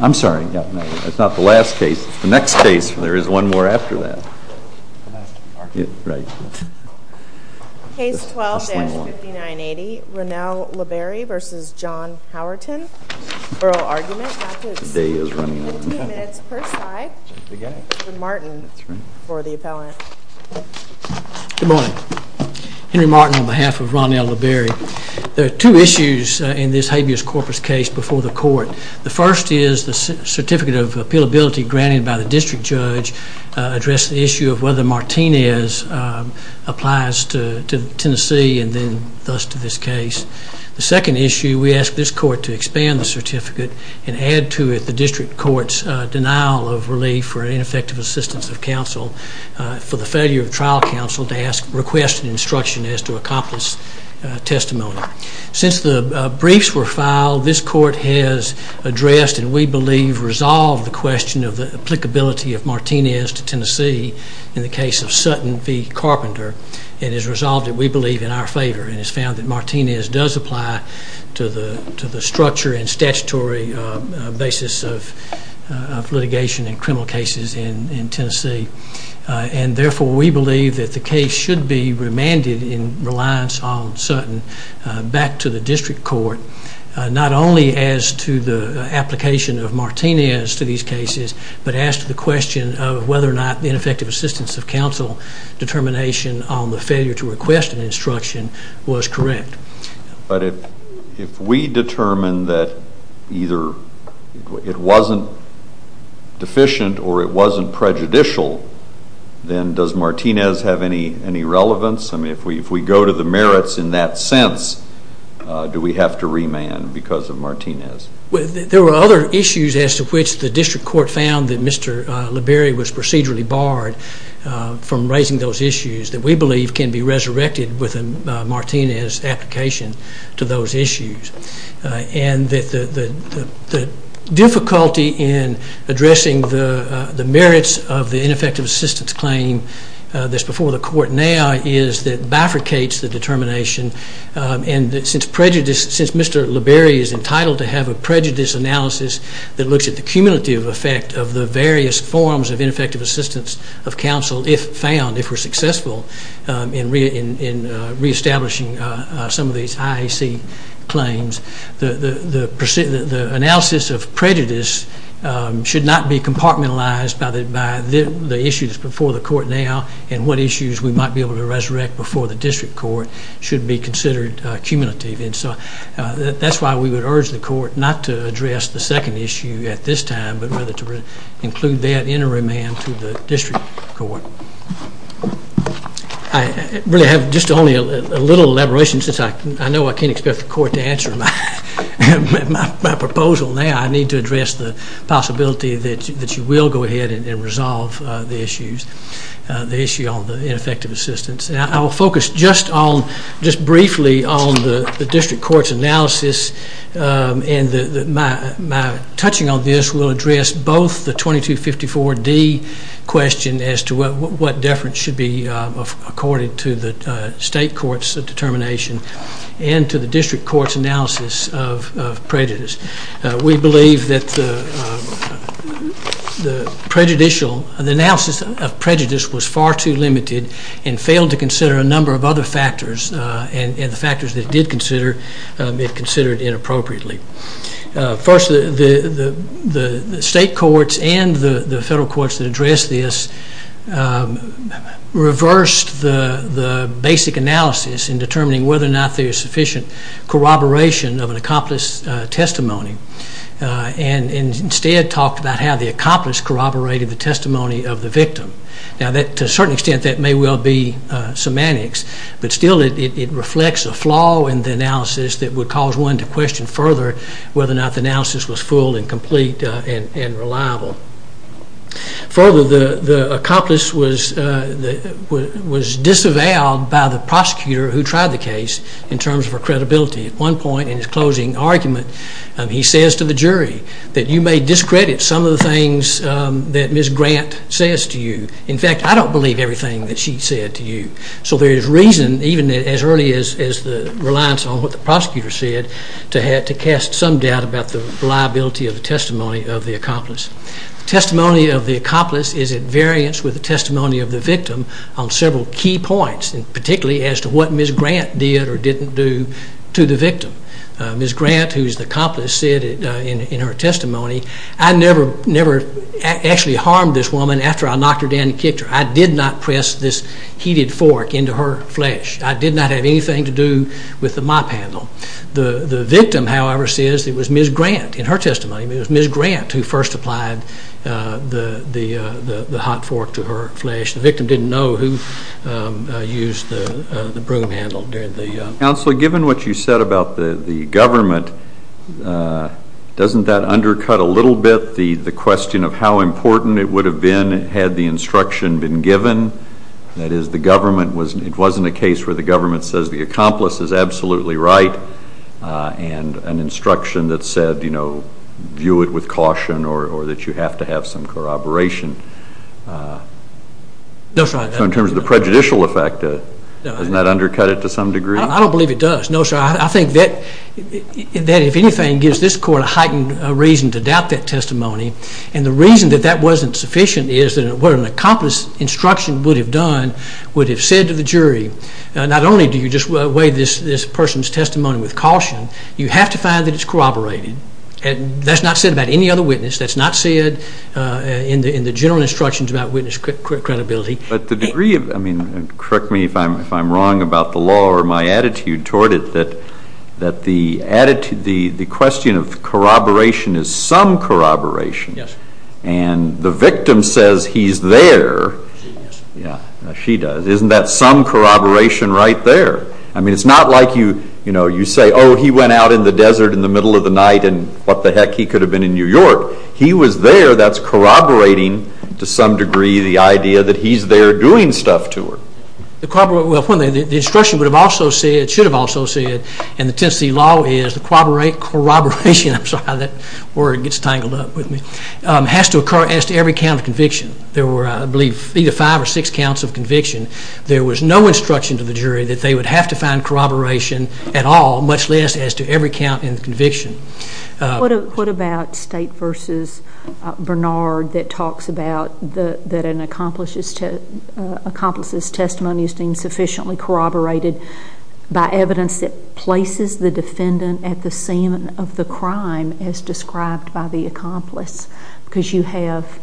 I'm sorry. That's not the last case. The next case, there is one more after that. Case 12-5980, Ronnell Leberry v. John Howerton, oral argument, 15 minutes per side, with Martin for the appellant. Good morning. Henry Martin on behalf of Ronnell Leberry. There are two issues in this habeas corpus case before the court. The first is the certificate of appealability granted by the district judge addressed the issue of whether Martinez applies to Tennessee and then thus to this case. The second issue, we ask this court to expand the certificate and add to it the district court's denial of relief for ineffective assistance of counsel for the failure of trial counsel to request instruction as to accomplish testimony. Since the briefs were filed, this court has addressed and we believe resolved the question of the applicability of Martinez to Tennessee in the case of Sutton v. Carpenter and has resolved it we believe in our favor and has found that Martinez does apply to the structure and statutory basis of litigation in criminal cases in Tennessee. And therefore, we believe that the case should be remanded in reliance on Sutton back to the district court, not only as to the application of Martinez to these cases, but as to the question of whether or not the ineffective assistance of counsel determination on the failure to request an instruction was correct. But if we determine that either it wasn't deficient or it wasn't prejudicial, then does Martinez have any relevance? I mean, if we go to the merits in that sense, do we have to remand because of Martinez? There were other issues as to which the district court found that Mr. LeBerry was procedurally barred from raising those issues that we believe can be resurrected within Martinez' application to those issues. And the difficulty in addressing the merits of the ineffective assistance claim that's before the court now is that it bifurcates the determination and since Mr. LeBerry is entitled to have a prejudice analysis that looks at the cumulative effect of the various forms of ineffective assistance of counsel if found, if we're successful in reestablishing some of these IAC claims, the analysis of prejudice should not be compartmentalized by the issues before the court now and what issues we might be able to resurrect before the district court should be considered cumulative. And so that's why we would urge the court not to address the second issue at this time, but rather to include that in a remand to the district court. I really have just only a little elaboration since I know I can't expect the court to answer my proposal now. I need to address the possibility that you will go ahead and resolve the issues, the issue on the ineffective assistance. I will focus just briefly on the district court's analysis and my touching on this will address both the 2254D question as to what deference should be accorded to the state court's determination and to the district court's analysis of prejudice. We believe that the analysis of prejudice was far too limited and failed to consider a number of other factors and the factors that it did consider, it considered inappropriately. First, the state courts and the federal courts that addressed this reversed the basic analysis in determining whether or not there is sufficient corroboration of an accomplished testimony and instead talked about how the accomplice corroborated the testimony of the victim. Now to a certain extent that may well be semantics, but still it reflects a flaw in the analysis that would cause one to question further whether or not the analysis was full and complete and reliable. Further, the accomplice was disavowed by the prosecutor who tried the case in terms of her credibility. At one point in his closing argument, he says to the jury that you may discredit some of the things that Ms. Grant says to you. In fact, I don't believe everything that she said to you. So there is reason, even as early as the reliance on what the prosecutor said, to cast some doubt about the reliability of the testimony of the accomplice. Testimony of the accomplice is at variance with the testimony of the victim on several key points, particularly as to what Ms. Grant did or didn't do to the victim. Ms. Grant, who is the accomplice, said in her testimony, I never actually harmed this woman after I knocked her down and kicked her. I did not press this heated fork into her flesh. I did not have anything to do with the mop handle. The victim, however, says it was Ms. Grant, in her testimony, it was Ms. Grant who first applied the hot fork to her flesh. The victim didn't know who used the broom handle during the... Counselor, given what you said about the government, doesn't that undercut a little bit the question of how important it would have been had the instruction been given, that is, it wasn't a case where the government says the accomplice is absolutely right, and an instruction that said view it with caution or that you have to have some corroboration? No, sir. So in terms of the prejudicial effect, doesn't that undercut it to some degree? I don't believe it does. No, sir. I think that, if anything, gives this court a heightened reason to doubt that testimony, and the reason that that wasn't sufficient is that what an accomplice's instruction would have done would have said to the jury, not only do you just weigh this person's testimony with caution, you have to find that it's corroborated, and that's not said about any other witness, that's not said in the general instructions about witness credibility. But the degree of... I mean, correct me if I'm wrong about the law or my attitude toward it, that the question of corroboration is some corroboration, and the victim says he's there, as she does, isn't that some corroboration right there? I mean, it's not like you say, oh, he went out in the desert in the middle of the night and what the heck, he could have been in New York. He was there, that's corroborating to some degree the idea that he's there doing stuff to her. Well, the instruction would have also said, should have also said, and the Tennessee law is the corroboration, I'm sorry, that word gets tangled up with me, has to occur as to every count of conviction. There were, I believe, either five or six counts of conviction. There was no instruction to the jury that they would have to find corroboration at all, much less as to every count in the conviction. What about State v. Bernard that talks about that an accomplice's testimony is deemed sufficiently corroborated by evidence that places the defendant at the scene of the crime as described by the accomplice? Because you have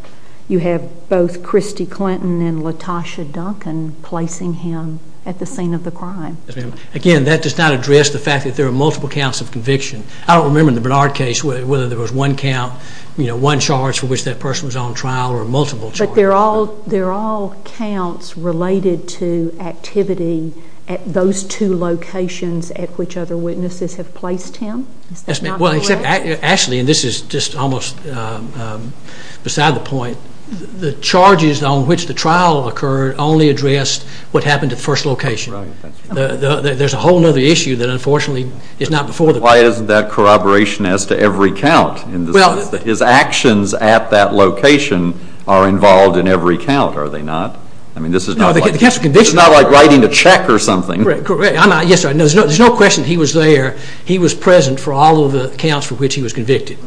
both Christy Clinton and Latosha Duncan placing him at the scene of the crime. Yes, ma'am. Again, that does not address the fact that there are multiple counts of conviction. I don't remember in the Bernard case whether there was one count, you know, one charge for which that person was on trial or multiple charges. But they're all counts related to activity at those two locations at which other witnesses have placed him? Is that not correct? Well, except actually, and this is just almost beside the point, the charges on which the trial occurred only addressed what happened at the first location. There's a whole other issue that unfortunately is not before the court. Why isn't that corroboration as to every count in the sense that his actions at that location are involved in every count? Are they not? I mean, this is not like writing a check or something. Yes, sir. There's no question he was there. He was present for all of the counts for which he was convicted.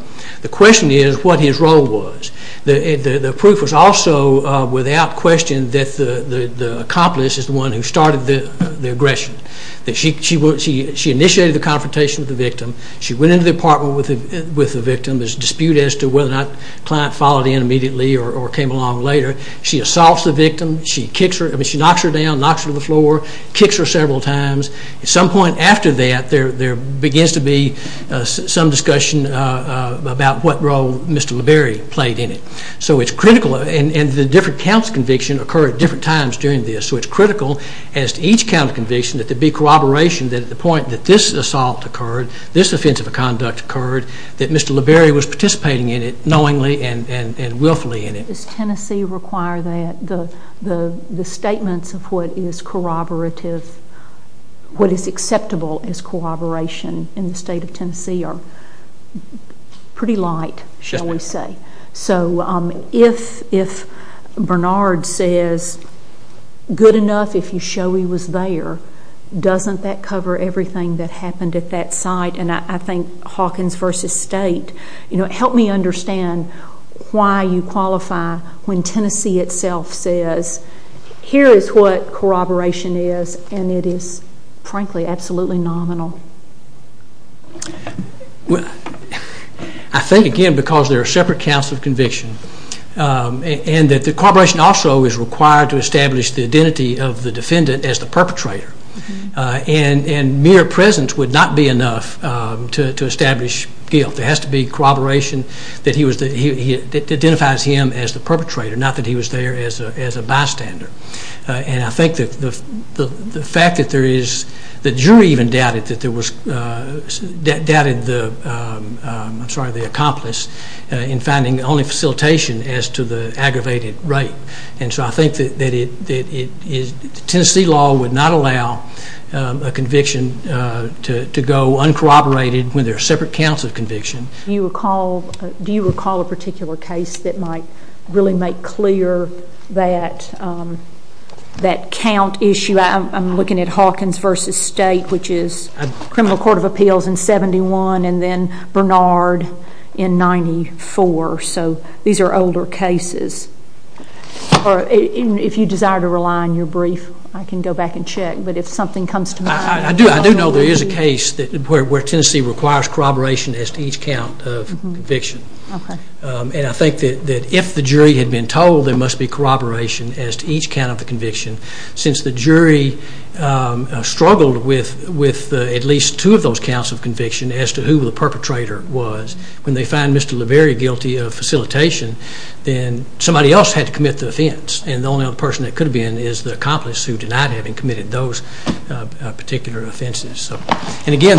The question is what his role was. The proof was also without question that the accomplice is the one who started the aggression. She initiated the confrontation with the victim. She went into the apartment with the victim. There's a dispute as to whether or not the client followed in immediately or came along later. She assaults the victim. She knocks her down, knocks her to the floor, kicks her several times. At some point after that, there begins to be some discussion about what role Mr. LeBarry played in it. So, it's critical, and the different counts of conviction occurred at different times during this. So, it's critical as to each count of conviction that there be corroboration that at the point that this assault occurred, this offensive conduct occurred, that Mr. LeBarry was participating in it knowingly and willfully in it. Does Tennessee require that the statements of what is corroborative, what is acceptable as corroboration in the state of Tennessee are pretty light, shall we say. So, if Bernard says, good enough if you show he was there, doesn't that cover everything that happened at that site? And I think Hawkins v. State, you know, help me understand why you qualify when Tennessee itself says, here is what corroboration is, and it is, frankly, absolutely nominal. Well, I think, again, because there are separate counts of conviction, and that the corroboration also is required to establish the identity of the defendant as the perpetrator, and mere presence would not be enough to establish guilt. There has to be corroboration that identifies him as the perpetrator, not that he was there as a bystander. And I think the fact that there is, the jury even doubted that there was, doubted the accomplice in finding the only facilitation as to the aggravated rape. And so I think that Tennessee law would not allow a conviction to go uncorroborated when there are separate counts of conviction. Do you recall a particular case that might really make clear that count issue? I'm looking at Hawkins v. State, which is Criminal Court of Appeals in 71, and then Bernard in 94. So these are older cases. If you desire to rely on your brief, I can go back and check, but if something comes to mind. I do know there is a case where Tennessee requires corroboration as to each count of conviction. Okay. And I think that if the jury had been told there must be corroboration as to each count of the conviction, since the jury struggled with at least two of those counts of conviction as to who the perpetrator was, when they find Mr. LaBerry guilty of facilitation, then somebody else had to commit the offense, and the only other person that could have been is the accomplice who denied having committed those particular offenses. And again,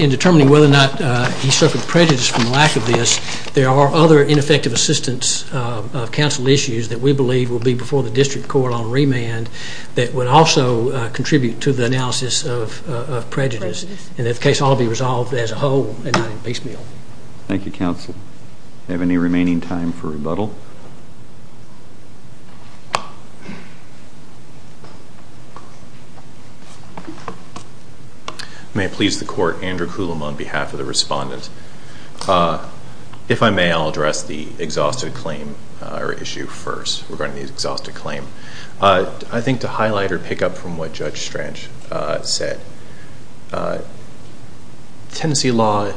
in determining whether or not he suffered prejudice from lack of this, there are other ineffective assistance of counsel issues that we believe will be before the district court on remand that would also contribute to the analysis of prejudice, and that case ought to be resolved as a whole and not in basemail. Thank you, counsel. Do we have any remaining time for rebuttal? If I may, I will address the exhausted claim or issue first regarding the exhausted claim. I think to highlight or pick up from what Judge Strange said, Tennessee law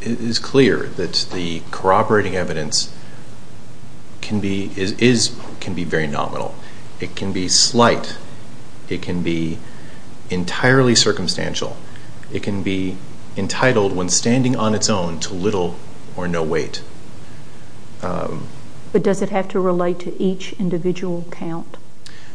is clear that the corroborating evidence can be very nominal. It can be slight. It can be entirely circumstantial. It can be entitled, when standing on its own, to little or no weight. But does it have to relate to each individual count?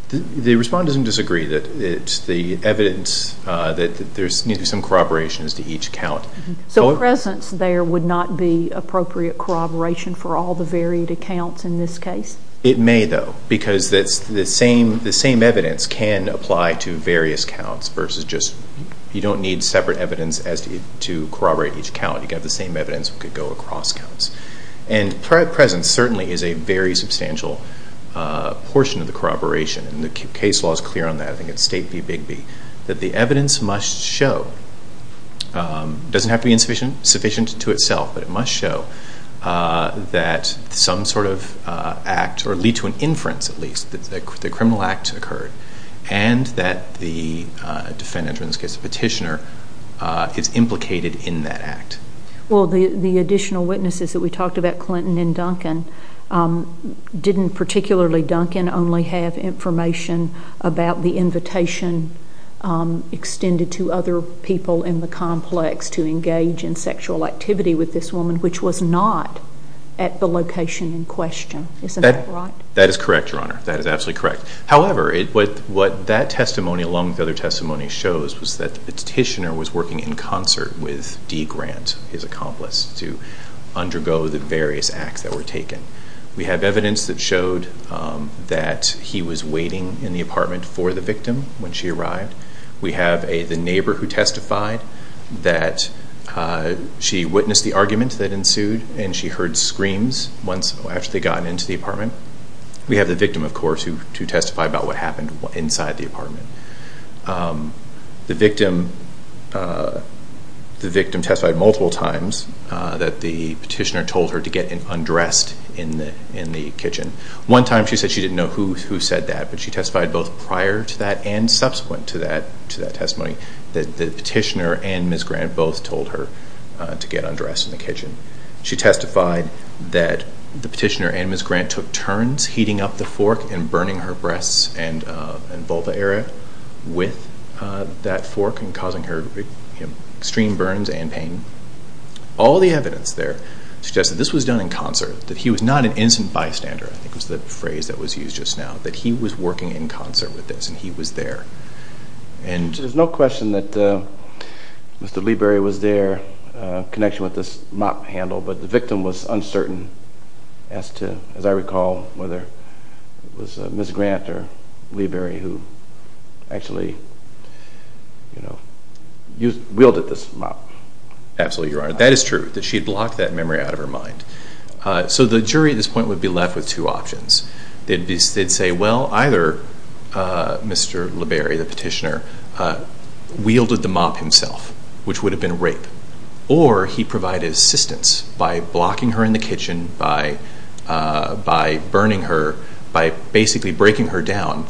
The respondent doesn't disagree that it's the evidence that there's some corroboration as to each count. So presence there would not be appropriate corroboration for all the varied accounts in this case? It may, though, because the same evidence can apply to various counts versus just you don't need separate evidence to corroborate each count. You have the same evidence that could go across counts. And presence certainly is a very substantial portion of the corroboration, and the case law is clear on that. I think it's state B, big B, that the evidence must show, doesn't have to be insufficient to itself, but it must show that some sort of act, or lead to an inference at least, the criminal act occurred, and that the defendant, in this case the petitioner, is implicated in that act. Well, the additional witnesses that we talked about, Clinton and Duncan, didn't particularly Duncan only have information about the invitation extended to other people in the complex to engage in sexual activity with this woman, which was not at the location in question. Isn't that right? That is correct, Your Honor. That is absolutely correct. However, what that testimony, along with other testimonies, shows is that the petitioner was working in concert with D. Grant, his accomplice, to undergo the various acts that were taken. We have evidence that showed that he was waiting in the apartment for the victim when she arrived. We have the neighbor who testified that she witnessed the argument that ensued, and she heard screams once they got into the apartment. We have the victim, of course, who testified about what happened inside the apartment. The victim testified multiple times that the petitioner told her to get undressed in the kitchen. One time she said she didn't know who said that, but she testified both prior to that and subsequent to that testimony that the petitioner and Ms. Grant both told her to get undressed in the kitchen. She testified that the petitioner and Ms. Grant took turns heating up the fork and burning her breasts and vulva area with that fork and causing her extreme burns and pain. All the evidence there suggests that this was done in concert, that he was not an instant bystander, I think was the phrase that was used just now, that he was working in concert with this and he was there. There is no question that Mr. Lieber was there in connection with this mop handle, but the jury at this point would be left with two options. They'd say, well, either Mr. Lieber, the petitioner, wielded the mop himself, which would have been rape, or he provided assistance by blocking her in the kitchen, by burning her, by basically breaking her down,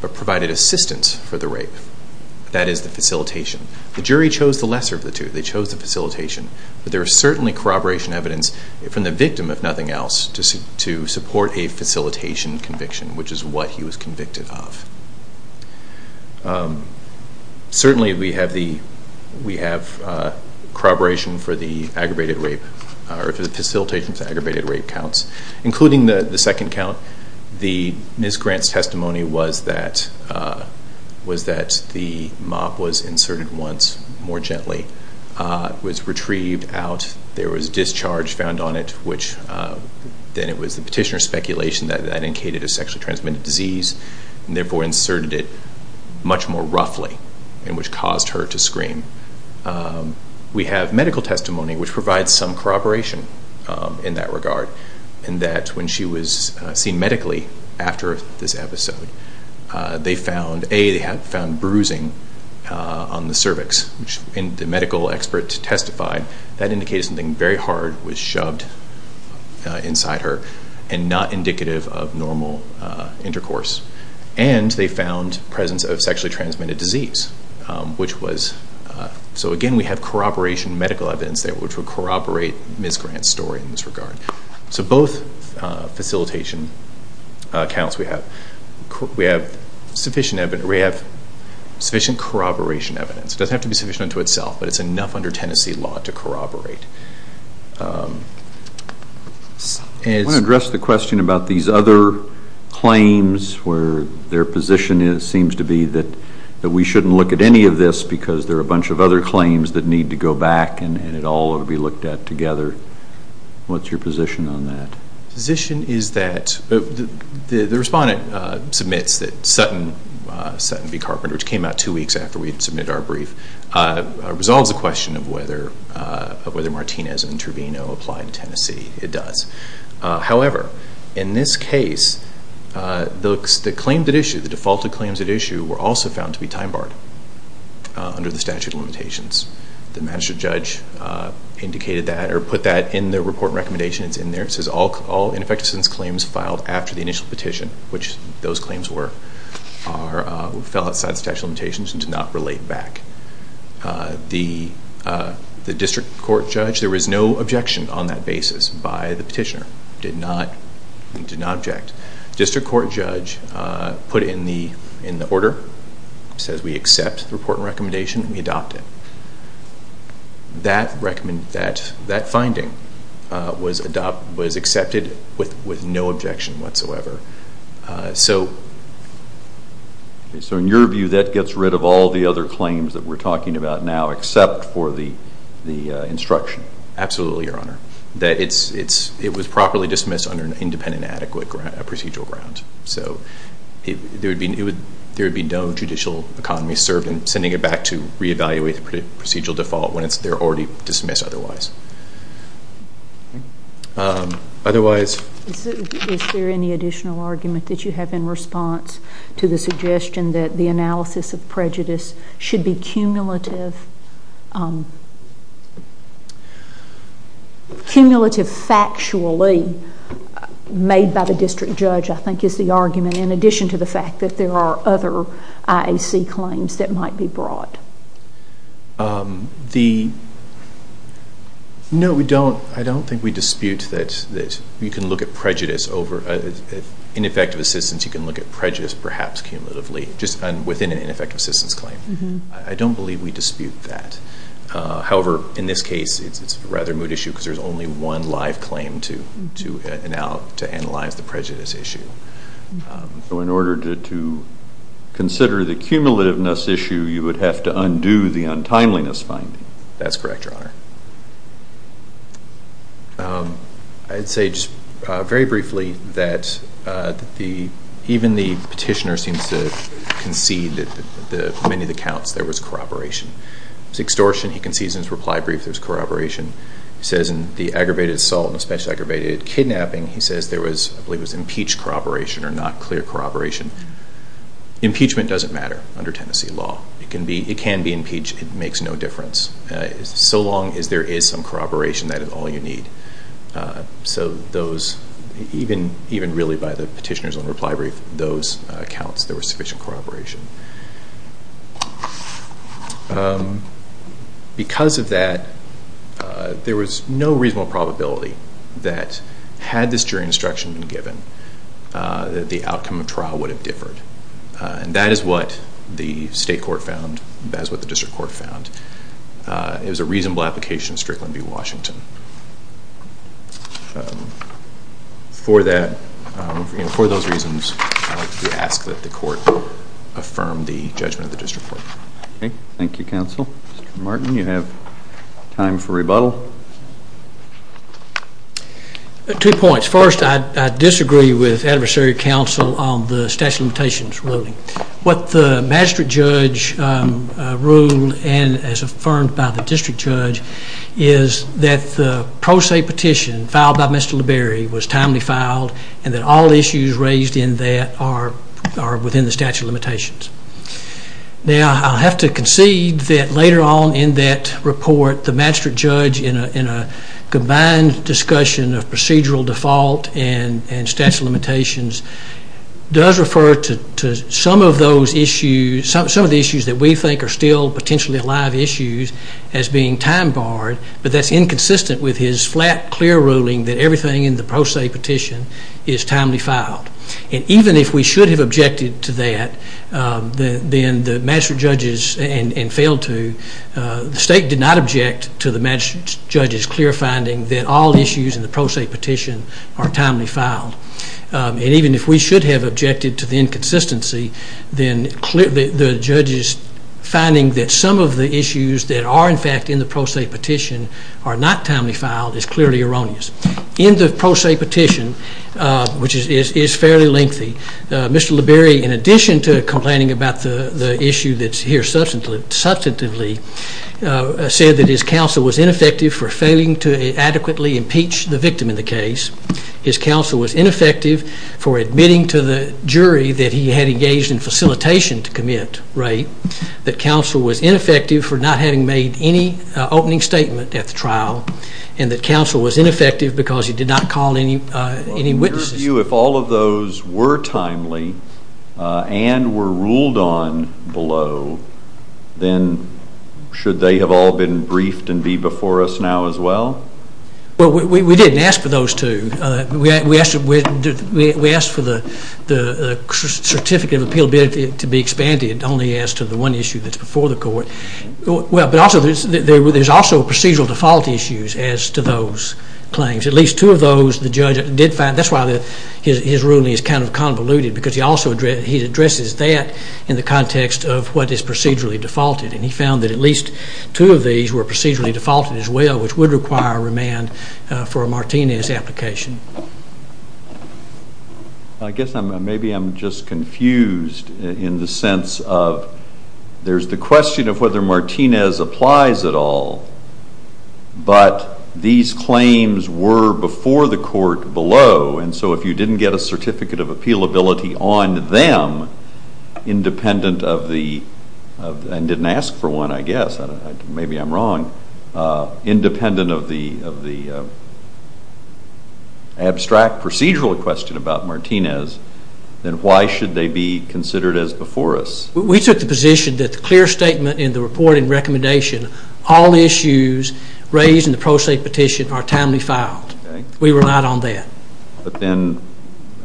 but provided assistance for the rape. That is the facilitation. The jury chose the lesser of the two. They chose the facilitation. But there is certainly corroboration evidence from the victim, if nothing else, to support a facilitation conviction, which is what he was convicted of. Certainly we have corroboration for the facilitation for aggravated rape counts, including the second count. The Ms. Grant's testimony was that the mop was inserted once, more gently, was retrieved out, there was discharge found on it, which then it was the petitioner's speculation that it indicated a sexually transmitted disease, and therefore inserted it much more roughly, and which caused her to scream. We have medical testimony which provides some corroboration in that regard, in that when she was seen medically after this episode, they found, A, they found bruising on the cervix, which the medical expert testified that indicated something very hard was shoved inside her, and not indicative of normal intercourse. And they found presence of sexually transmitted disease, which was, so again we have corroboration medical evidence there, which would corroborate Ms. Grant's story in this regard. So both facilitation counts we have sufficient evidence, we have sufficient corroboration evidence. It doesn't have to be sufficient unto itself, but it's enough under Tennessee law to corroborate. I want to address the question about these other claims, where their position seems to be that we shouldn't look at any of this, because there are a bunch of other claims that need to go back, and it all ought to be looked at together. What's your position on that? The position is that, the respondent submits that Sutton v. Carpenter, which came out two weeks after we submitted our brief, resolves the question of whether Martinez and Trevino apply in Tennessee. It does. However, in this case, the claims at issue, the defaulted claims at issue, were also found to be time barred under the statute of limitations. The magistrate judge indicated that, or put that in the report and recommendation, it's in there. It says all ineffective assistance claims filed after the initial petition, which those claims were, fell outside the statute of limitations and did not relate back. The district court judge, there was no objection on that basis by the petitioner. Did not object. District court judge put it in the order, says we accept the report and recommendation, and we adopt it. That finding was accepted with no objection whatsoever. So in your view, that gets rid of all the other claims that we're talking about now, except for the instruction? Absolutely, Your Honor. It was properly dismissed under an independent and adequate procedural ground. So there would be no judicial economy served in sending it back to re-evaluate the procedural default when they're already dismissed otherwise. Is there any additional argument that you have in response to the suggestion that the analysis of prejudice should be cumulative, cumulative factually made by the district court judge, I think is the argument, in addition to the fact that there are other IAC claims that might be brought? No, we don't. I don't think we dispute that you can look at prejudice over ineffective assistance. You can look at prejudice, perhaps, cumulatively, just within an ineffective assistance claim. I don't believe we dispute that. However, in this case, it's a rather moot issue because there's only one live claim to analyze the prejudice issue. So in order to consider the cumulativeness issue, you would have to undo the untimeliness finding? That's correct, Your Honor. I'd say just very briefly that even the petitioner seems to concede that for many of the counts, there was corroboration. It was extortion. He concedes in his reply brief there was corroboration. He says in the aggravated assault and especially aggravated kidnapping, he says there was, I believe, impeached corroboration or not clear corroboration. Impeachment doesn't matter under Tennessee law. It can be impeached. It makes no difference. So long as there is some corroboration, that is all you need. So those, even really by the petitioner's own reply brief, those accounts, there was sufficient corroboration. Because of that, there was no reasonable probability that had this jury instruction been given, that the outcome of trial would have differed. And that is what the state court found. That is what the district court found. It was a reasonable application strictly to be Washington. For that, for those reasons, I would like to ask that the court affirm the judgment of the district court. Okay. Thank you, counsel. Mr. Martin, you have time for rebuttal. Two points. First, I disagree with adversary counsel on the statute of limitations ruling. What the magistrate judge ruled and as affirmed by the district judge, is that the pro se petition filed by Mr. Liberi was timely filed and that all issues raised in that are within the statute of limitations. Now, I have to concede that later on in that report, the magistrate judge in a combined discussion of procedural default and statute of limitations does refer to some of the issues that we think are still potentially alive issues as being time barred, but that's inconsistent with his flat, clear ruling that everything in the pro se petition is timely filed. And even if we should have objected to that and failed to, the state did not object to the magistrate judge's clear finding that all issues in the pro se petition are timely filed. And even if we should have objected to the inconsistency, then the judge's finding that some of the issues that are in fact in the pro se petition are not timely filed is clearly erroneous. In the pro se petition, which is fairly lengthy, Mr. Liberi, in addition to complaining about the issue that's here substantively, said that his counsel was ineffective for failing to adequately impeach the victim in the case. His counsel was ineffective for admitting to the jury that he had engaged in facilitation to commit rape, that counsel was ineffective for not having made any opening statement at the trial, and that counsel was ineffective because he did not call any witnesses. In your view, if all of those were timely and were ruled on below, then should they have all been briefed and be before us now as well? Well, we didn't ask for those two. We asked for the certificate of appeal to be expanded only as to the one issue that's before the court. Well, but also there's also procedural default issues as to those claims. At least two of those the judge did find. That's why his ruling is kind of convoluted because he also addresses that in the context of what is procedurally defaulted. He found that at least two of these were procedurally defaulted as well, which would require remand for a Martinez application. I guess maybe I'm just confused in the sense of there's the question of whether Martinez applies at all, but these claims were before the court below, and so if you didn't get a certificate of appealability on them independent of the, and didn't ask for one I guess, maybe I'm wrong, independent of the abstract procedural question about Martinez, then why should they be considered as before us? We took the position that the clear statement in the reporting recommendation, all issues raised in the pro se petition are timely filed. We relied on that. But then,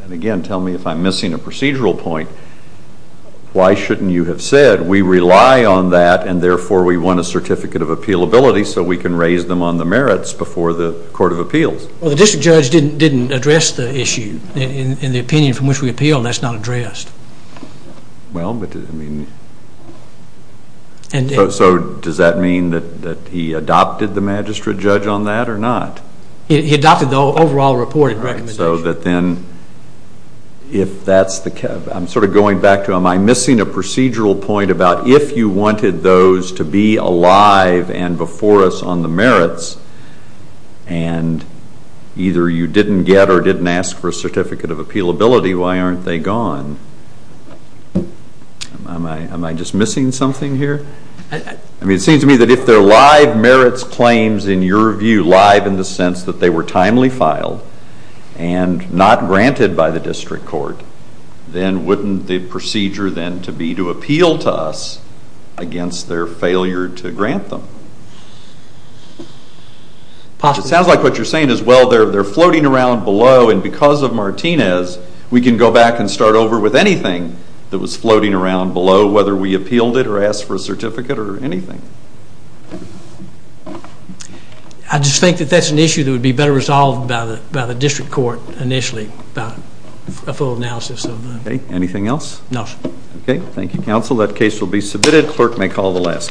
and again tell me if I'm missing a procedural point, why shouldn't you have said we rely on that and therefore we want a certificate of appealability so we can raise them on the merits before the court of appeals? Well, the district judge didn't address the issue. In the opinion from which we appealed that's not addressed. Well, but I mean, so does that mean that he adopted the magistrate judge on that or not? He adopted the overall reporting recommendation. So that then if that's the case, I'm sort of going back to am I missing a procedural point about if you wanted those to be alive and before us on the merits, and either you didn't get or didn't ask for a certificate of appealability, why aren't they gone? Am I just missing something here? I mean, it seems to me that if they're live merits claims in your view, live in the sense that they were timely filed and not granted by the district court, then wouldn't the procedure then to be to appeal to us against their failure to grant them? It sounds like what you're saying is well, they're floating around below and because of Martinez we can go back and start over with anything that was floating around below, whether we appealed it or asked for a certificate or anything. I just think that that's an issue that would be better resolved by the district court initially, a full analysis of the… Okay, anything else? No, sir. Okay, thank you, counsel. That case will be submitted. Clerk may call the last case.